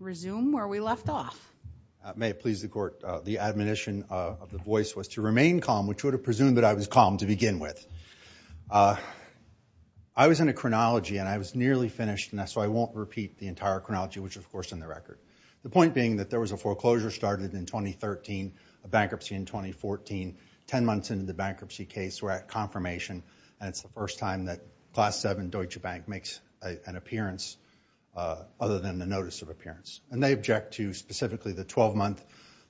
May it please the court, the admonition of the voice was to remain calm which would have presumed that I was calm to begin with. I was in a chronology and I was nearly finished and so I won't repeat the entire chronology which of course is in the record. The point being that there was a foreclosure started in 2013, a bankruptcy in 2014, 10 months into the bankruptcy case we're at confirmation and it's the first time that Class 7 Deutsche Bank makes an appearance other than the notice of appearance. And they object to specifically the 12-month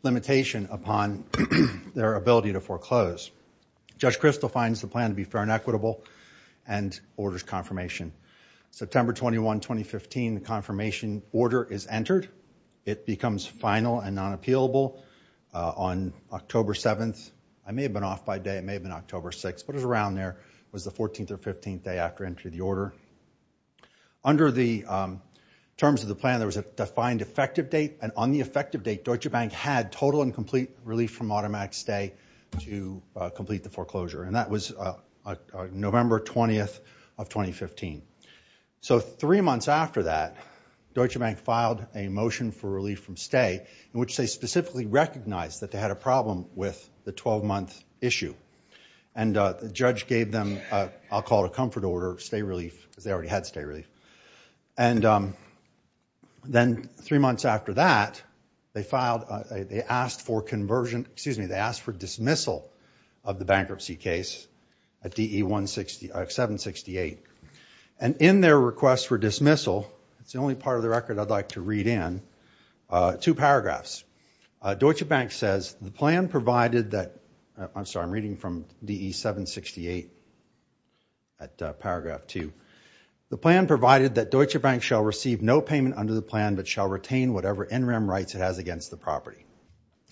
limitation upon their ability to foreclose. Judge Kristol finds the plan to be fair and equitable and orders confirmation. September 21, 2015 the confirmation order is entered. It becomes final and non-appealable on October 7th. I may have been off by day, it may have been October 6th, but it was around there. It was the 14th or 15th day after entry of the order. Under the terms of the plan there was a defined effective date and on the effective date Deutsche Bank had total and complete relief from automatic stay to complete the foreclosure. And that was November 20th of 2015. So three months after that Deutsche Bank filed a motion for relief from stay in which they specifically recognized that they had a problem with the 12-month issue. And the judge gave them, I'll call it a comfort order, stay relief because they already had stay relief. And then three months after that they asked for dismissal of the bankruptcy case at DE 768. And in their request for dismissal, it's the only part of the record I'd like to read in, two paragraphs. Deutsche Bank says, the plan provided that, I'm sorry I'm reading from DE 768 at paragraph 2. The plan provided that Deutsche Bank shall receive no payment under the plan but shall retain whatever in-rem rights it has against the property.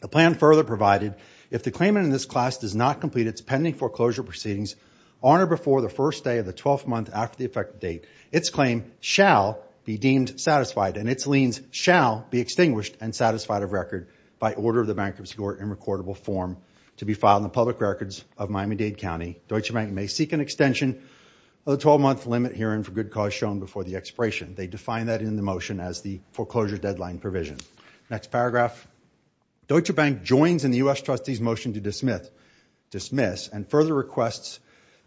The plan further provided, if the claimant in this class does not complete its pending foreclosure proceedings on or before the first day of the 12-month after the effective date, its claim shall be deemed satisfied and its liens shall be extinguished and satisfied of record by order of the bankruptcy court in recordable form to be filed in the public records of Miami-Dade County. Deutsche Bank may seek an extension of the 12-month limit herein for good cause shown before the expiration. They define that in the motion as the foreclosure deadline provision. Next paragraph. Deutsche Bank joins in the U.S. Trustee's motion to dismiss and further requests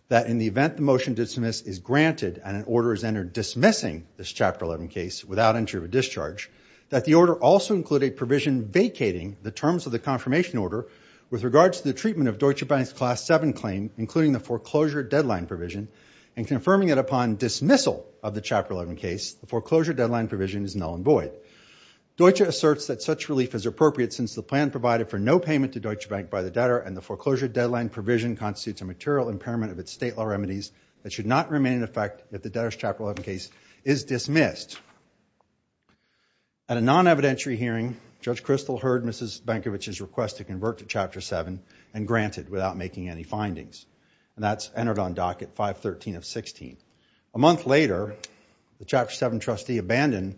that in the event the motion to dismiss is granted and an order is entered dismissing this Chapter 11 case without entry or discharge, that the order also include a provision vacating the terms of the confirmation order with regards to the treatment of Deutsche Bank's Class 7 claim, including the foreclosure deadline provision and confirming it upon dismissal of the Chapter 11 case, the foreclosure deadline provision is null and void. Deutsche asserts that such relief is appropriate since the plan provided for no payment to Deutsche Bank by the debtor and the foreclosure deadline provision constitutes a material impairment of its state law remedies that should not remain in effect if the debtor's Chapter 11 case is dismissed. At a non-evidentiary hearing, Judge Kristol heard Mrs. Bankovic's request to convert to Chapter 7 and granted without making any findings. And that's entered on docket 513 of 16. A month later, the Chapter 7 trustee abandoned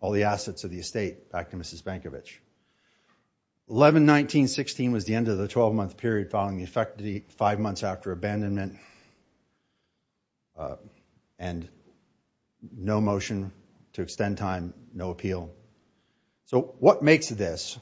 all the assets of the estate back to Mrs. Bankovic. 11-19-16 was the end of the 12-month period following the effect of the five months after abandonment and no motion to extend time, no appeal. So what makes this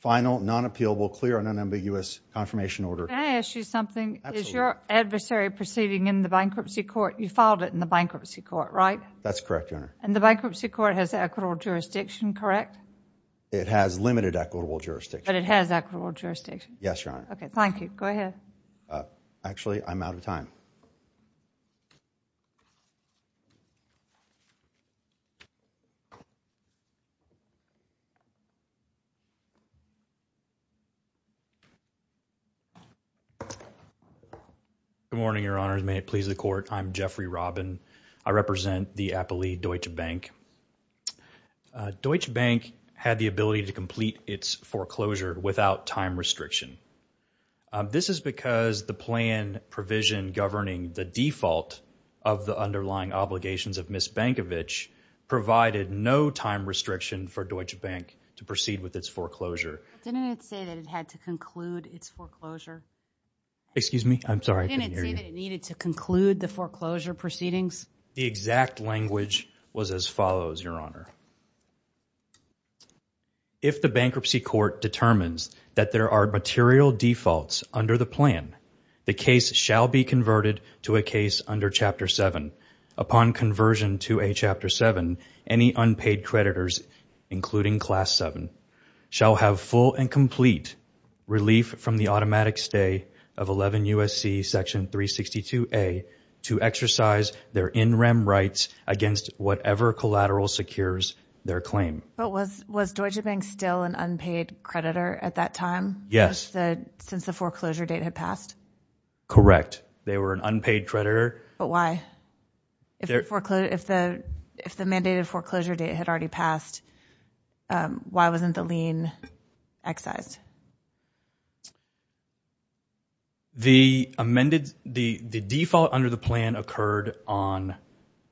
final, non-appealable, clear and unambiguous confirmation order? Can I ask you something? Is your adversary proceeding in the bankruptcy court? You filed it in the bankruptcy court, right? That's correct, Your Honor. And the bankruptcy court has equitable jurisdiction, correct? It has limited equitable jurisdiction. But it has equitable jurisdiction? Yes, Your Honor. Okay, thank you. Go ahead. Actually, I'm out of time. Good morning, Your Honor. May it please the court, I'm Jeffrey Robin. I represent the appellee Deutsche Bank. Deutsche Bank had the ability to complete its foreclosure without time restriction. This is because the plan provision governing the default of the underlying obligations of Mrs. Bankovic provided no time restriction for Deutsche Bank to proceed with its foreclosure. Didn't it say that it had to conclude its foreclosure? Excuse me? I'm sorry, I couldn't hear you. Didn't it say that it needed to conclude the foreclosure proceedings? The exact language was as follows, Your Honor. If the bankruptcy court determines that there are material defaults under the plan, the case shall be converted to a case under Chapter 7. Upon conversion to a Chapter 7, any unpaid creditors, including Class 7, shall have full and complete relief from the automatic stay of 11 U.S.C. Section 362A to exercise their in-rem rights against whatever collateral secures their claim. But was Deutsche Bank still an unpaid creditor at that time? Yes. Since the foreclosure date had passed? Correct. They were an unpaid creditor. But why? If the mandated foreclosure date had already passed, why wasn't the lien excised? The default under the plan occurred on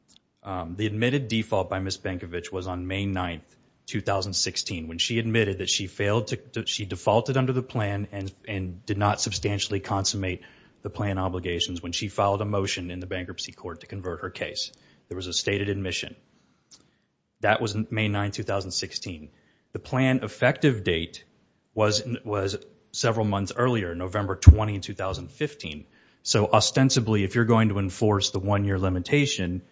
– the admitted default by Ms. Bankovic was on May 9, 2016, when she admitted that she defaulted under the plan and did not substantially consummate the plan obligations. When she filed a motion in the bankruptcy court to convert her case, there was a stated admission. That was May 9, 2016. The plan effective date was several months earlier, November 20, 2015. So ostensibly, if you're going to enforce the one-year limitation,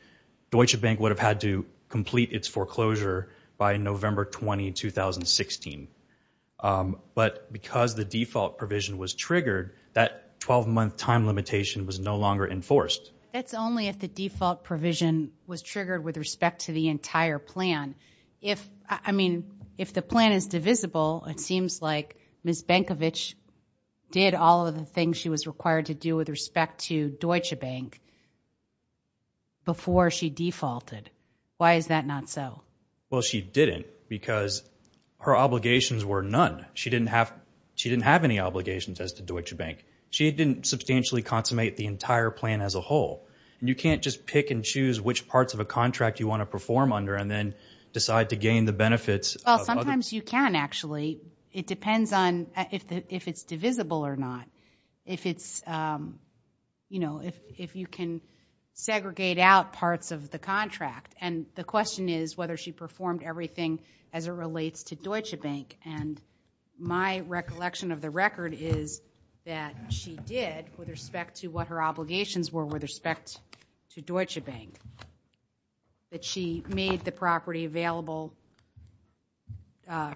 Deutsche Bank would have had to complete its foreclosure by November 20, 2016. But because the default provision was triggered, that 12-month time limitation was no longer enforced. That's only if the default provision was triggered with respect to the entire plan. If – I mean, if the plan is divisible, it seems like Ms. Bankovic did all of the things she was required to do with respect to Deutsche Bank before she defaulted. Why is that not so? Well, she didn't because her obligations were none. She didn't have – she didn't have any obligations as to Deutsche Bank. She didn't substantially consummate the entire plan as a whole. And you can't just pick and choose which parts of a contract you want to perform under and then decide to gain the benefits of other – Well, sometimes you can, actually. It depends on if it's divisible or not, if it's – if you can segregate out parts of the contract. And the question is whether she performed everything as it relates to Deutsche Bank. And my recollection of the record is that she did with respect to what her obligations were with respect to Deutsche Bank. That she made the property available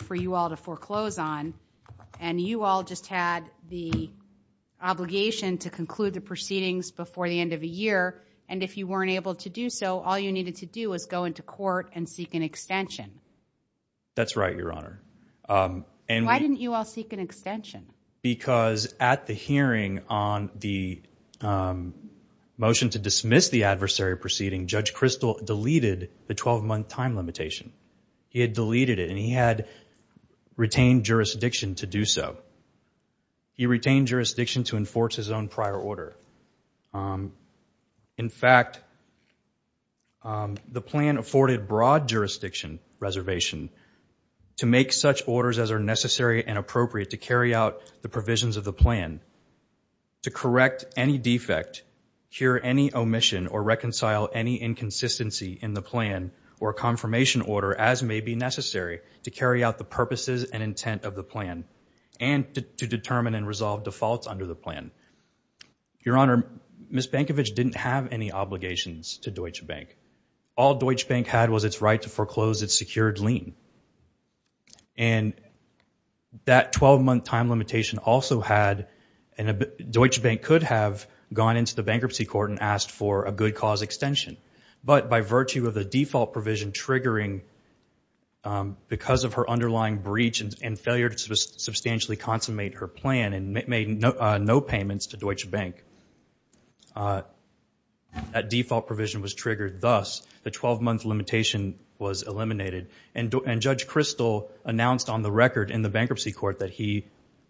for you all to foreclose on. And you all just had the obligation to conclude the proceedings before the end of the year. And if you weren't able to do so, all you needed to do was go into court and seek an extension. That's right, Your Honor. Why didn't you all seek an extension? Because at the hearing on the motion to dismiss the adversary proceeding, Judge Kristol deleted the 12-month time limitation. He had deleted it, and he had retained jurisdiction to do so. He retained jurisdiction to enforce his own prior order. In fact, the plan afforded broad jurisdiction reservation to make such orders as are necessary and appropriate to carry out the provisions of the plan, to correct any defect, cure any omission, or reconcile any inconsistency in the plan or confirmation order as may be necessary to carry out the purposes and intent of the plan and to determine and resolve defaults under the plan. Your Honor, Ms. Bankovich didn't have any obligations to Deutsche Bank. All Deutsche Bank had was its right to foreclose its secured lien. And that 12-month time limitation also had – Deutsche Bank could have gone into the bankruptcy court and asked for a good cause extension. But by virtue of the default provision triggering because of her underlying breach and failure to substantially consummate her plan and made no payments to Deutsche Bank, that default provision was triggered. Thus, the 12-month limitation was eliminated. And Judge Kristol announced on the record in the bankruptcy court that he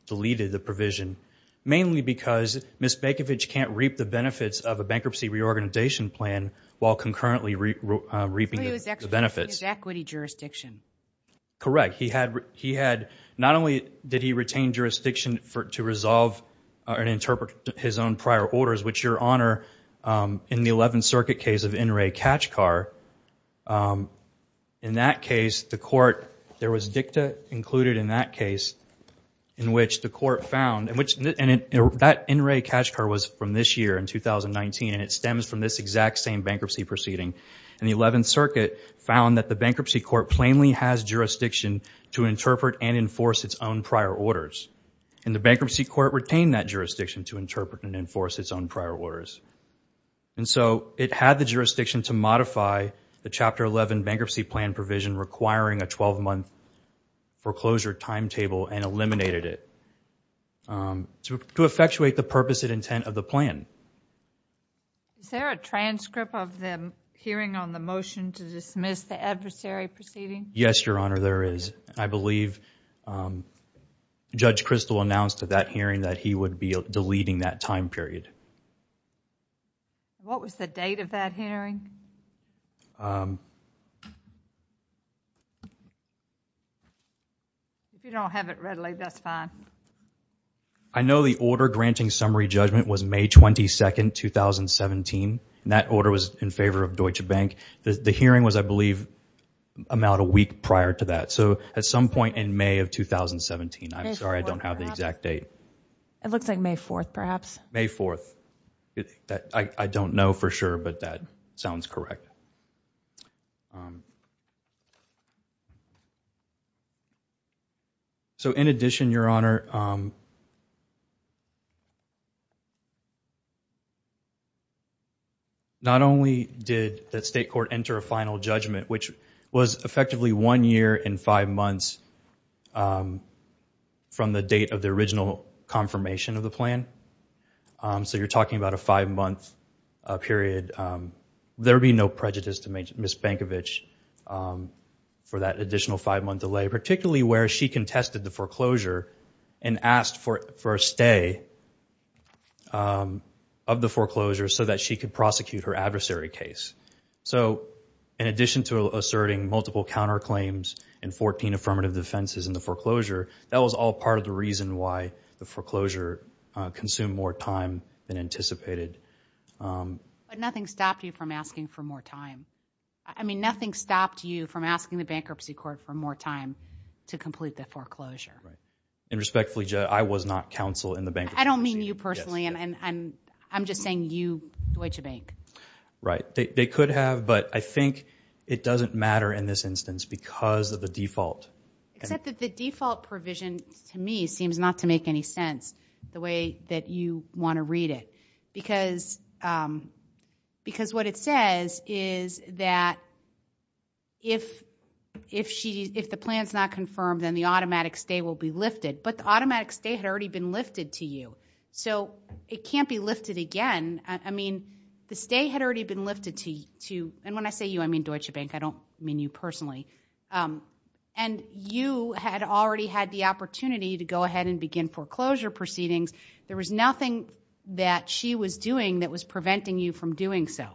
deleted the provision, mainly because Ms. Bankovich can't reap the benefits of a bankruptcy reorganization plan while concurrently reaping the benefits. It was equity jurisdiction. Correct. He had – not only did he retain jurisdiction to resolve and interpret his own prior orders, which, Your Honor, in the 11th Circuit case of Inouye Kachkar, in that case, the court – that Inouye Kachkar was from this year, in 2019, and it stems from this exact same bankruptcy proceeding. And the 11th Circuit found that the bankruptcy court plainly has jurisdiction to interpret and enforce its own prior orders. And the bankruptcy court retained that jurisdiction to interpret and enforce its own prior orders. And so it had the jurisdiction to modify the Chapter 11 bankruptcy plan provision requiring a 12-month foreclosure timetable and eliminated it to effectuate the purpose and intent of the plan. Is there a transcript of the hearing on the motion to dismiss the adversary proceeding? Yes, Your Honor, there is. I believe Judge Kristol announced at that hearing that he would be deleting that time period. What was the date of that hearing? If you don't have it readily, that's fine. I know the order granting summary judgment was May 22, 2017, and that order was in favor of Deutsche Bank. The hearing was, I believe, about a week prior to that. So at some point in May of 2017. I'm sorry, I don't have the exact date. It looks like May 4th, perhaps. May 4th. I don't know for sure, but that sounds correct. So in addition, Your Honor, not only did the state court enter a final judgment, which was effectively one year and five months from the date of the original confirmation of the plan. So you're talking about a five-month period. There would be no prejudice to Ms. Bankovich for that additional five-month delay, particularly where she contested the foreclosure and asked for a stay of the foreclosure so that she could prosecute her adversary case. So in addition to asserting multiple counterclaims and 14 affirmative defenses in the foreclosure, that was all part of the reason why the foreclosure consumed more time than anticipated. But nothing stopped you from asking for more time. I mean, nothing stopped you from asking the bankruptcy court for more time to complete the foreclosure. And respectfully, Judge, I was not counsel in the bankruptcy court. I don't mean you personally. I'm just saying you, Deutsche Bank. Right. They could have, but I think it doesn't matter in this instance because of the default. Except that the default provision to me seems not to make any sense the way that you want to read it because what it says is that if the plan is not confirmed, then the automatic stay will be lifted. But the automatic stay had already been lifted to you. So it can't be lifted again. I mean, the stay had already been lifted to you. And when I say you, I mean Deutsche Bank. I don't mean you personally. And you had already had the opportunity to go ahead and begin foreclosure proceedings. There was nothing that she was doing that was preventing you from doing so.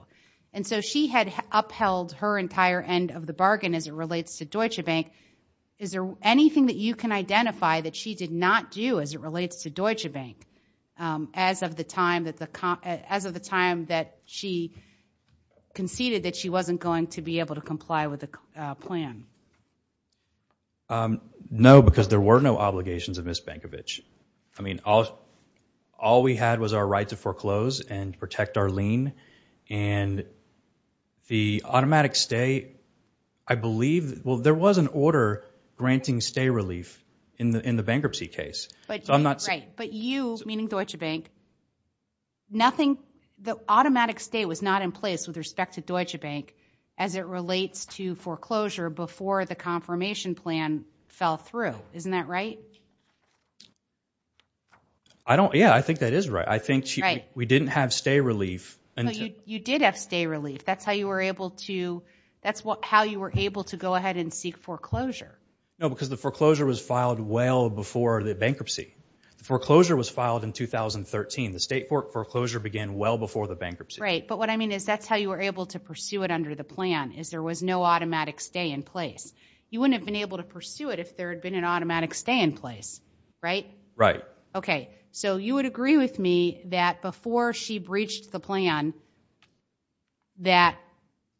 And so she had upheld her entire end of the bargain as it relates to Deutsche Bank. Is there anything that you can identify that she did not do as it relates to Deutsche Bank as of the time that she conceded that she wasn't going to be able to comply with the plan? No, because there were no obligations of Ms. Bankovich. I mean, all we had was our right to foreclose and protect our lien. And the automatic stay, I believe, well, there was an order granting stay relief in the bankruptcy case. Right, but you, meaning Deutsche Bank, nothing, the automatic stay was not in place with respect to Deutsche Bank as it relates to foreclosure before the confirmation plan fell through. Isn't that right? I don't, yeah, I think that is right. I think we didn't have stay relief. No, you did have stay relief. That's how you were able to, that's how you were able to go ahead and seek foreclosure. No, because the foreclosure was filed well before the bankruptcy. The foreclosure was filed in 2013. The state foreclosure began well before the bankruptcy. Right, but what I mean is that's how you were able to pursue it under the plan, is there was no automatic stay in place. You wouldn't have been able to pursue it if there had been an automatic stay in place, right? Right. Okay, so you would agree with me that before she breached the plan that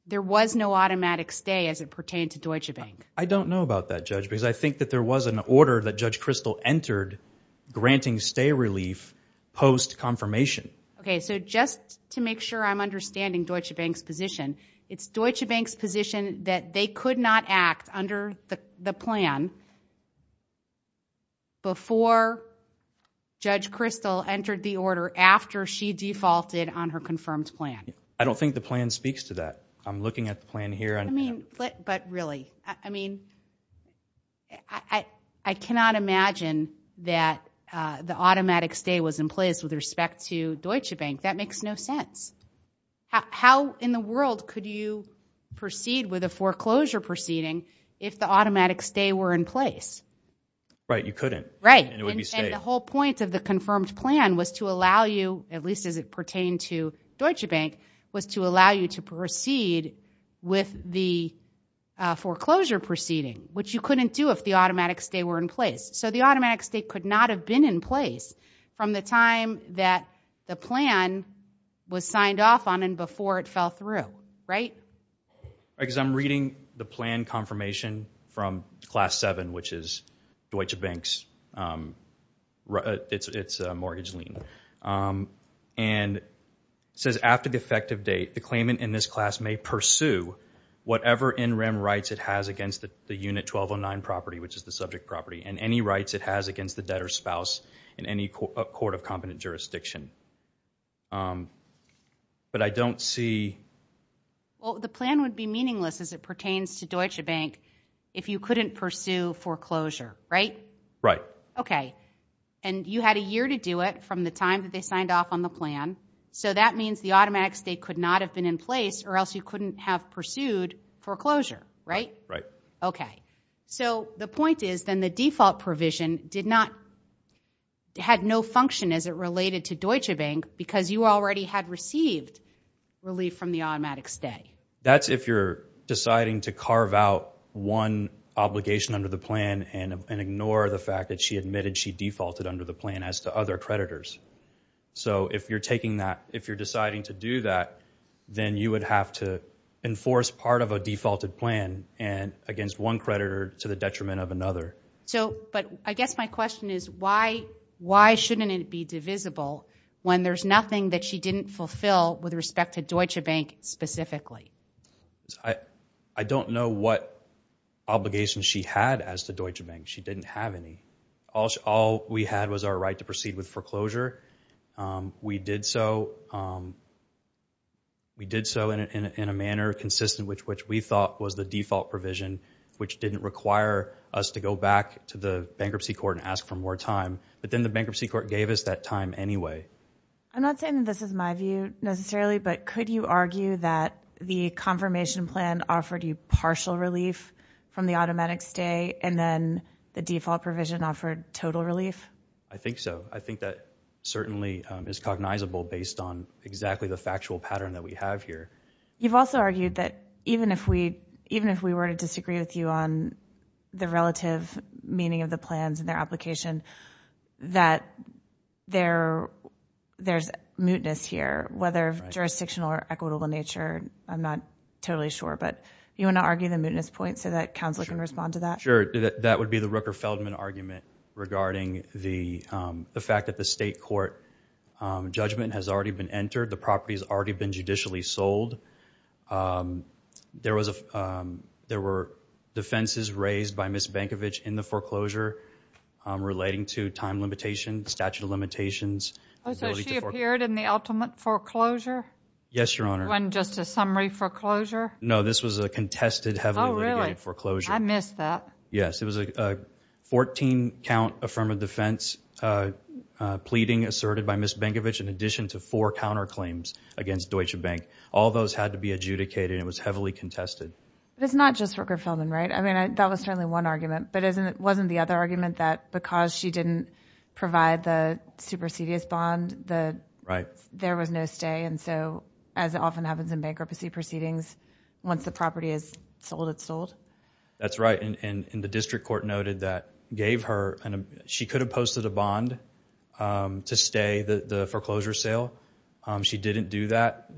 there was no automatic stay as it pertained to Deutsche Bank? I don't know about that, Judge, because I think that there was an order that Judge Kristol entered granting stay relief post-confirmation. Okay, so just to make sure I'm understanding Deutsche Bank's position, it's Deutsche Bank's position that they could not act under the plan before Judge Kristol entered the order after she defaulted on her confirmed plan. I don't think the plan speaks to that. I'm looking at the plan here. I mean, but really, I mean, I cannot imagine that the automatic stay was in place with respect to Deutsche Bank. That makes no sense. How in the world could you proceed with a foreclosure proceeding if the automatic stay were in place? Right, you couldn't. Right, and the whole point of the confirmed plan was to allow you, at least as it pertained to Deutsche Bank, was to allow you to proceed with the foreclosure proceeding, which you couldn't do if the automatic stay were in place. So the automatic stay could not have been in place from the time that the plan was signed off on and before it fell through, right? Because I'm reading the plan confirmation from Class 7, which is Deutsche Bank's mortgage lien, and it says, after the effective date, the claimant in this class may pursue whatever in rem rights it has against the Unit 1209 property, which is the subject property, and any rights it has against the debtor's spouse in any court of competent jurisdiction. But I don't see... Well, the plan would be meaningless as it pertains to Deutsche Bank if you couldn't pursue foreclosure, right? Right. Okay. And you had a year to do it from the time that they signed off on the plan, so that means the automatic stay could not have been in place or else you couldn't have pursued foreclosure, right? Right. Okay. So the point is then the default provision did not... had no function as it related to Deutsche Bank because you already had received relief from the automatic stay. That's if you're deciding to carve out one obligation under the plan and ignore the fact that she admitted she defaulted under the plan as to other creditors. So if you're taking that, if you're deciding to do that, then you would have to enforce part of a defaulted plan against one creditor to the detriment of another. So, but I guess my question is why shouldn't it be divisible when there's nothing that she didn't fulfill with respect to Deutsche Bank specifically? I don't know what obligations she had as to Deutsche Bank. She didn't have any. All we had was our right to proceed with foreclosure. We did so in a manner consistent which we thought was the default provision which didn't require us to go back to the bankruptcy court and ask for more time. But then the bankruptcy court gave us that time anyway. I'm not saying that this is my view necessarily, but could you argue that the confirmation plan offered you partial relief from the automatic stay and then the default provision offered total relief? I think so. I think that certainly is cognizable based on exactly the factual pattern that we have here. You've also argued that even if we were to disagree with you on the relative meaning of the plans and their application, that there's mootness here, whether jurisdictional or equitable in nature. I'm not totally sure. But do you want to argue the mootness point so that counsel can respond to that? Sure. That would be the Rooker-Feldman argument regarding the fact that the state court judgment has already been entered. The property has already been judicially sold. There were defenses raised by Ms. Bankovich in the foreclosure relating to time limitation, statute of limitations. Oh, so she appeared in the ultimate foreclosure? Yes, Your Honor. It wasn't just a summary foreclosure? No, this was a contested heavily litigated foreclosure. Oh, really? I missed that. Yes, it was a 14-count affirmative defense pleading asserted by Ms. Bankovich in addition to four counterclaims against Deutsche Bank. All those had to be adjudicated and it was heavily contested. It's not just Rooker-Feldman, right? I mean, that was certainly one argument, but wasn't the other argument that because she didn't provide the supersedious bond, there was no stay? And so, as often happens in bankruptcy proceedings, once the property is sold, it's sold? That's right, and the district court noted that gave her, she could have posted a bond to stay the foreclosure sale. She didn't do that,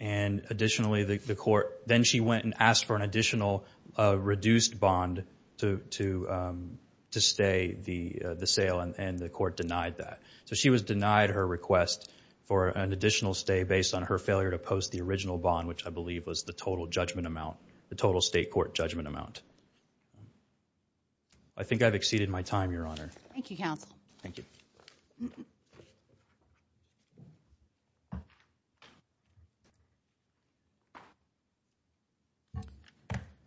and additionally the court, then she went and asked for an additional reduced bond to stay the sale, and the court denied that. So she was denied her request for an additional stay based on her failure to post the original bond, which I believe was the total judgment amount, the total state court judgment amount. I think I've exceeded my time, Your Honor. Thank you, Counsel. Thank you.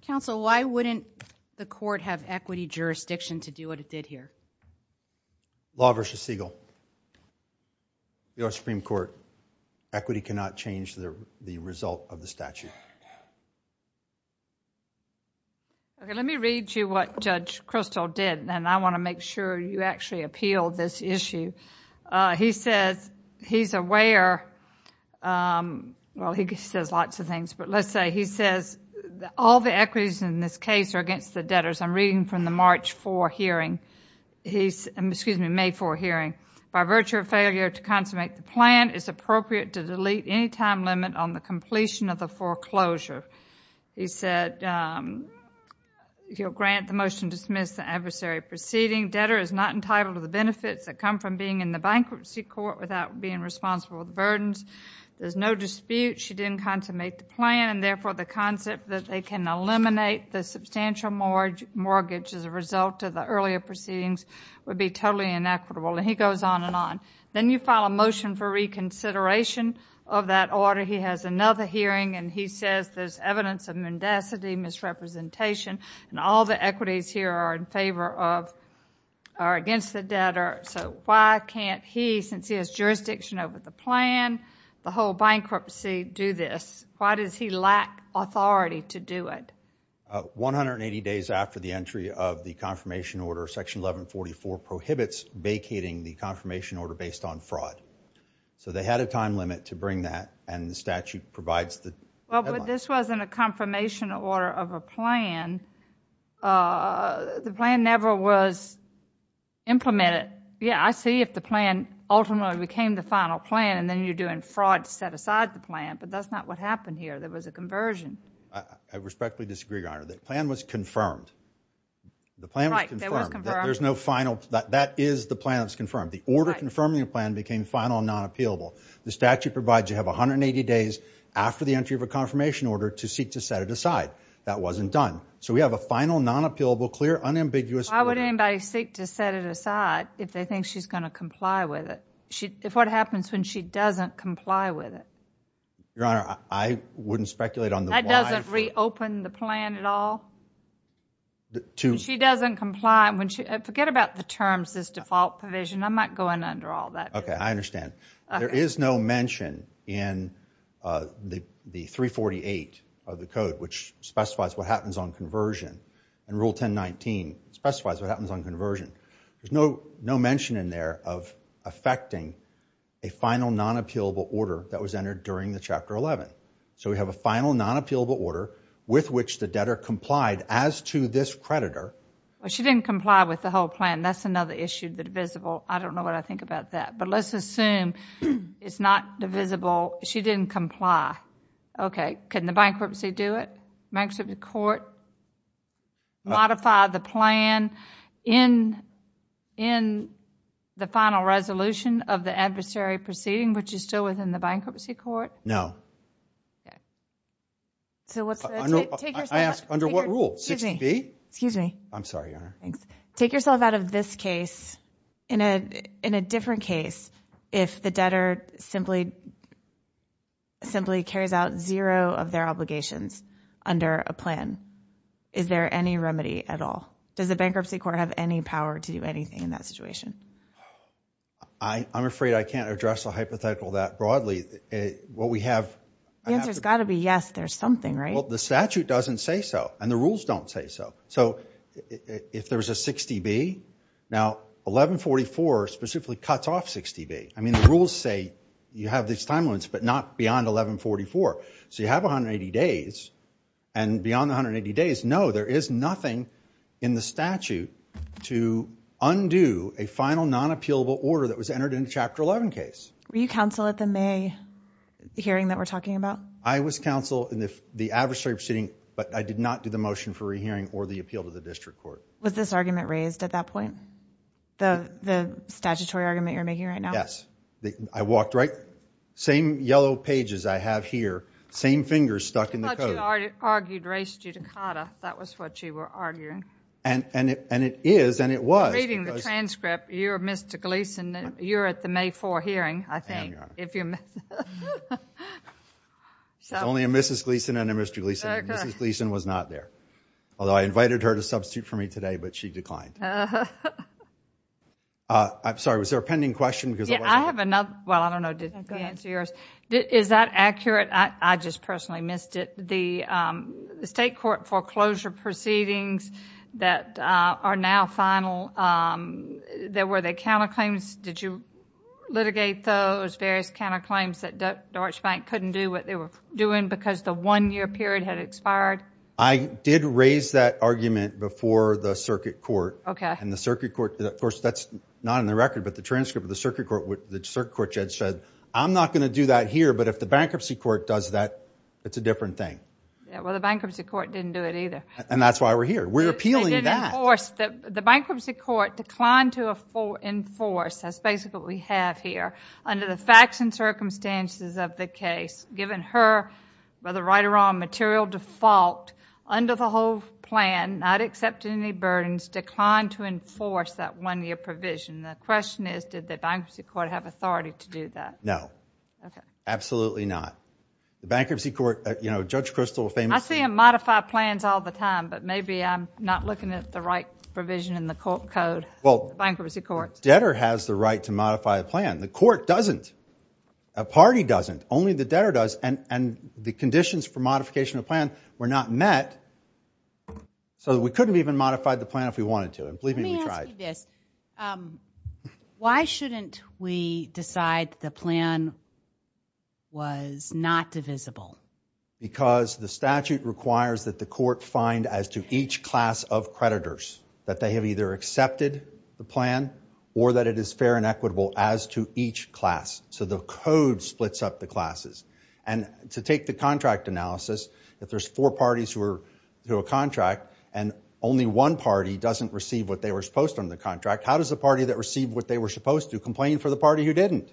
Counsel, why wouldn't the court have equity jurisdiction to do what it did here? Law v. Siegel. We are a Supreme Court. Equity cannot change the result of the statute. Okay, let me read you what Judge Krosthal did, and I want to make sure you actually appeal this issue. He says he's aware, well, he says lots of things, but let's say he says all the equities in this case are against the debtors. I'm reading from the March 4 hearing, excuse me, May 4 hearing. By virtue of failure to consummate the plan, it's appropriate to delete any time limit on the completion of the foreclosure. He said he'll grant the motion to dismiss the adversary proceeding. Debtor is not entitled to the benefits that come from being in the bankruptcy court without being responsible for the burdens. There's no dispute she didn't consummate the plan, and therefore the concept that they can eliminate the substantial mortgage as a result of the earlier proceedings would be totally inequitable, and he goes on and on. Then you file a motion for reconsideration of that order. He has another hearing, and he says there's evidence of mendacity, misrepresentation, and all the equities here are against the debtor, so why can't he, since he has jurisdiction over the plan, the whole bankruptcy, do this? Why does he lack authority to do it? 180 days after the entry of the confirmation order, Section 1144 prohibits vacating the confirmation order based on fraud, so they had a time limit to bring that, and the statute provides the headline. Well, but this wasn't a confirmation order of a plan. The plan never was implemented. Yeah, I see if the plan ultimately became the final plan, and then you're doing fraud to set aside the plan, but that's not what happened here. There was a conversion. I respectfully disagree, Your Honor. The plan was confirmed. The plan was confirmed. Right, it was confirmed. There's no final. That is the plan that's confirmed. The order confirming the plan became final and non-appealable. The statute provides you have 180 days after the entry of a confirmation order to seek to set it aside. That wasn't done. So we have a final, non-appealable, clear, unambiguous order. Why would anybody seek to set it aside if they think she's going to comply with it? If what happens when she doesn't comply with it? Your Honor, I wouldn't speculate on the why. That doesn't reopen the plan at all? She doesn't comply. I'm not going under all that. Okay, I understand. There is no mention in the 348 of the code, which specifies what happens on conversion, and Rule 1019 specifies what happens on conversion. There's no mention in there of affecting a final, non-appealable order that was entered during the Chapter 11. So we have a final, non-appealable order with which the debtor complied as to this creditor. Well, she didn't comply with the whole plan. That's another issue, the divisible. I don't know what I think about that. But let's assume it's not divisible. She didn't comply. Okay. Couldn't the bankruptcy do it? Bankruptcy court modify the plan in the final resolution of the adversary proceeding, which is still within the bankruptcy court? No. Okay. I ask under what rule? 60B? Excuse me. I'm sorry, Your Honor. Take yourself out of this case In a different case, if the debtor simply carries out zero of their obligations under a plan, is there any remedy at all? Does the bankruptcy court have any power to do anything in that situation? I'm afraid I can't address the hypothetical that broadly. What we have... The answer's got to be yes, there's something, right? Well, the statute doesn't say so, and the rules don't say so. So if there's a 60B, now 1144 specifically cuts off 60B. I mean, the rules say you have these time limits, but not beyond 1144. So you have 180 days, and beyond the 180 days, no, there is nothing in the statute to undo a final non-appealable order that was entered in the Chapter 11 case. Were you counsel at the May hearing that we're talking about? I was counsel in the adversary proceeding, but I did not do the motion for re-hearing or the appeal to the district court. Was this argument raised at that point? The statutory argument you're making right now? Yes. I walked right... Same yellow pages I have here, same fingers stuck in the code. I thought you argued res judicata. That was what you were arguing. And it is, and it was. I'm reading the transcript. You're Mr. Gleeson. You're at the May 4 hearing, I think. I am, Your Honor. There's only a Mrs. Gleeson and a Mr. Gleeson. Mrs. Gleeson was not there, although I invited her to substitute for me today, but she declined. I'm sorry. Was there a pending question? Yeah, I have another. Well, I don't know if the answer is yours. Is that accurate? I just personally missed it. The state court foreclosure proceedings that are now final, were they counterclaims? Did you litigate those various counterclaims that Deutsche Bank couldn't do what they were doing because the one-year period had expired? I did raise that argument before the circuit court. Okay. And the circuit court, of course, that's not in the record, but the transcript of the circuit court, the circuit court judge said, I'm not going to do that here, but if the bankruptcy court does that, it's a different thing. Yeah, well, the bankruptcy court didn't do it either. And that's why we're here. We're appealing that. They didn't enforce. The bankruptcy court declined to enforce, that's basically what we have here, under the facts and circumstances of the case, given her, by the right or wrong material default, under the whole plan, not accepting any burdens, declined to enforce that one-year provision. The question is, did the bankruptcy court have authority to do that? No. Okay. Absolutely not. The bankruptcy court, you know, Judge Kristol famously- I see him modify plans all the time, but maybe I'm not looking at the right provision in the court code, the bankruptcy court. Well, the debtor has the right to modify a plan. The court doesn't. A party doesn't. Only the debtor does. And the conditions for modification of the plan were not met. So we couldn't have even modified the plan if we wanted to. And believe me, we tried. Let me ask you this. Why shouldn't we decide the plan was not divisible? Because the statute requires that the court find as to each class of creditors that they have either accepted the plan or that it is fair and equitable as to each class. So the code splits up the classes. And to take the contract analysis, if there's four parties who have a contract and only one party doesn't receive what they were supposed to on the contract, how does the party that received what they were supposed to complain for the party who didn't?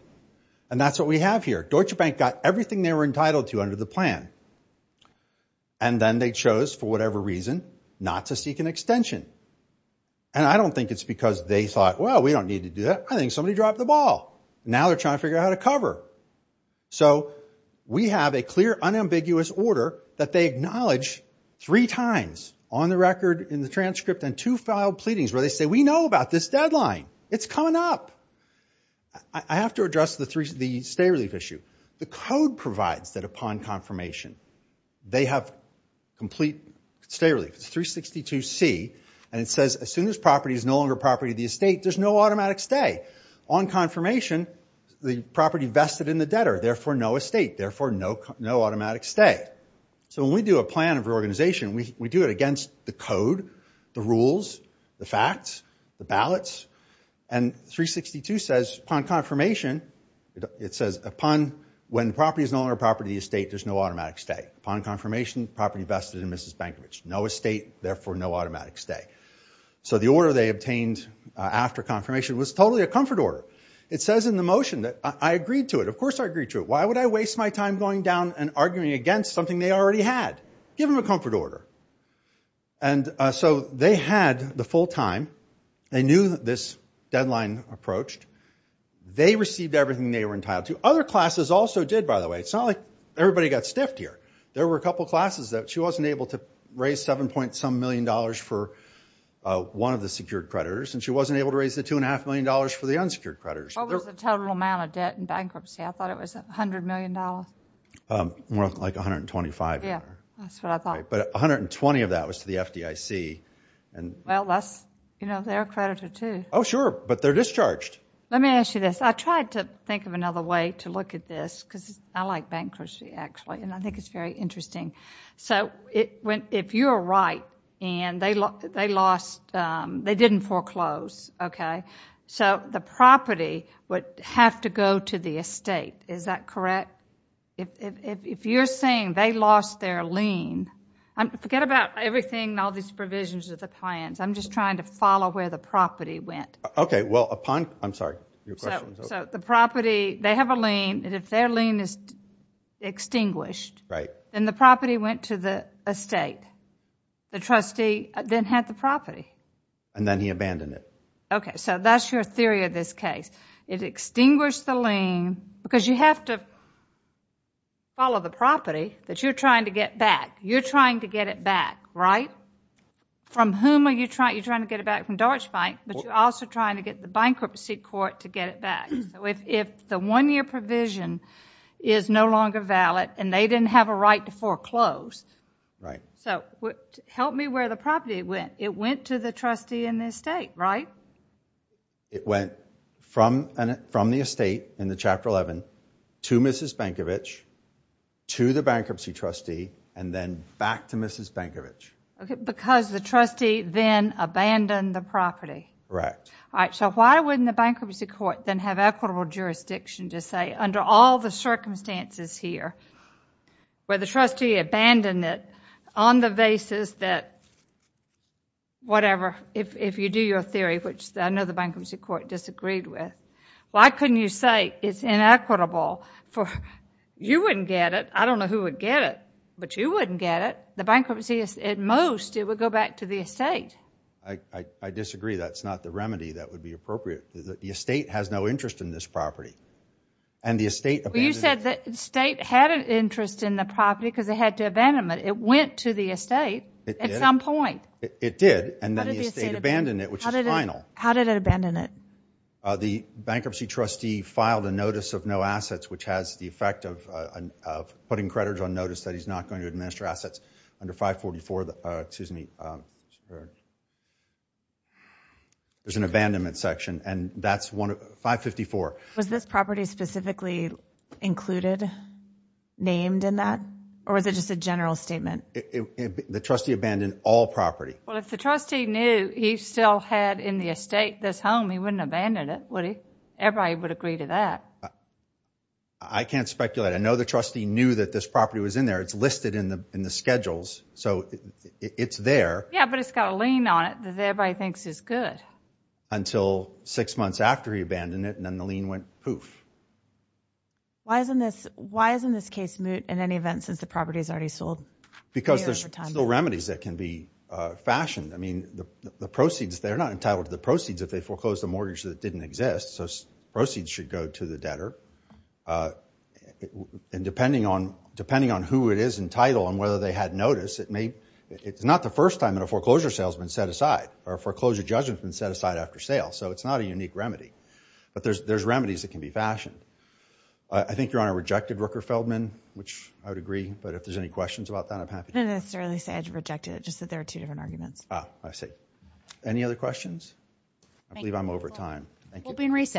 And that's what we have here. Deutsche Bank got everything they were entitled to under the plan. And then they chose, for whatever reason, not to seek an extension. And I don't think it's because they thought, well, we don't need to do that. I think somebody dropped the ball. Now they're trying to figure out how to cover. So we have a clear, unambiguous order that they acknowledge three times on the record, in the transcript, and two filed pleadings where they say, we know about this deadline. It's coming up. I have to address the stay-relief issue. The code provides that upon confirmation, they have complete stay-relief. It's 362C, and it says, as soon as property is no longer property of the estate, there's no automatic stay. On confirmation, the property vested in the debtor. Therefore, no estate. Therefore, no automatic stay. So when we do a plan of reorganization, we do it against the code, the rules, the facts, the ballots. And 362 says, upon confirmation, it says, upon when property is no longer property of the estate, there's no automatic stay. Upon confirmation, property vested in Mrs. Bankovich. No estate. Therefore, no automatic stay. So the order they obtained after confirmation was totally a comfort order. It says in the motion that I agreed to it. Of course I agreed to it. Why would I waste my time going down and arguing against something they already had? Give them a comfort order. And so they had the full time. They knew this deadline approached. They received everything they were entitled to. Other classes also did, by the way. It's not like everybody got stiffed here. There were a couple classes that she wasn't able to raise seven-point-some-million dollars for one of the secured creditors, and she wasn't able to raise the two-and-a-half-million dollars for the unsecured creditors. What was the total amount of debt in bankruptcy? I thought it was $100 million. More like $125 million. Yeah, that's what I thought. But $120 million of that was to the FDIC. Well, that's their creditor, too. Oh, sure. But they're discharged. Let me ask you this. I tried to think of another way to look at this, because I like bankruptcy, actually, and I think it's very interesting. If you're right and they didn't foreclose, so the property would have to go to the estate. Is that correct? If you're saying they lost their lien, forget about everything and all these provisions of the plans. I'm just trying to follow where the property went. Okay. I'm sorry. Your question was over. They have a lien, and if their lien is extinguished, then the property went to the estate. The trustee then had the property. And then he abandoned it. Okay. So that's your theory of this case. It extinguished the lien, because you have to follow the property that you're trying to get back. You're trying to get it back, right? From whom are you trying to get it back? From Dorchbank, but you're also trying to get the bankruptcy court to get it back. If the one-year provision is no longer valid and they didn't have a right to foreclose, help me where the property went. It went to the trustee in the estate, right? It went from the estate in Chapter 11 to Mrs. Bankovich, to the bankruptcy trustee, and then back to Mrs. Bankovich. Because the trustee then abandoned the property. Correct. All right, so why wouldn't the bankruptcy court then have equitable jurisdiction to say, under all the circumstances here, where the trustee abandoned it on the basis that whatever, if you do your theory, which I know the bankruptcy court disagreed with, why couldn't you say it's inequitable? You wouldn't get it. I don't know who would get it, but you wouldn't get it. The bankruptcy, at most, it would go back to the estate. I disagree. That's not the remedy that would be appropriate. The estate has no interest in this property. You said the estate had an interest in the property because it had to abandon it. It went to the estate at some point. It did, and then the estate abandoned it, which is final. How did it abandon it? The bankruptcy trustee filed a notice of no assets, which has the effect of putting credit on notice that he's not going to administer assets under 544. Excuse me. There's an abandonment section, and that's 554. Was this property specifically included, named in that, or was it just a general statement? The trustee abandoned all property. Well, if the trustee knew he still had in the estate this home, he wouldn't abandon it, would he? Everybody would agree to that. I can't speculate. I know the trustee knew that this property was in there. It's listed in the schedules. So it's there. Yeah, but it's got a lien on it that everybody thinks is good. Until six months after he abandoned it, and then the lien went poof. Why isn't this case moot in any event since the property is already sold? Because there's still remedies that can be fashioned. I mean, the proceeds, they're not entitled to the proceeds if they foreclosed a mortgage that didn't exist, so proceeds should go to the debtor. And depending on who it is in title and whether they had notice, it's not the first time that a foreclosure sale has been set aside or a foreclosure judgment has been set aside after sale, so it's not a unique remedy. But there's remedies that can be fashioned. I think Your Honor rejected Rooker Feldman, which I would agree, but if there's any questions about that, I'm happy. I didn't necessarily say I rejected it, just that there are two different arguments. Ah, I see. Any other questions? I believe I'm over time. Thank you. Court is open. Recess.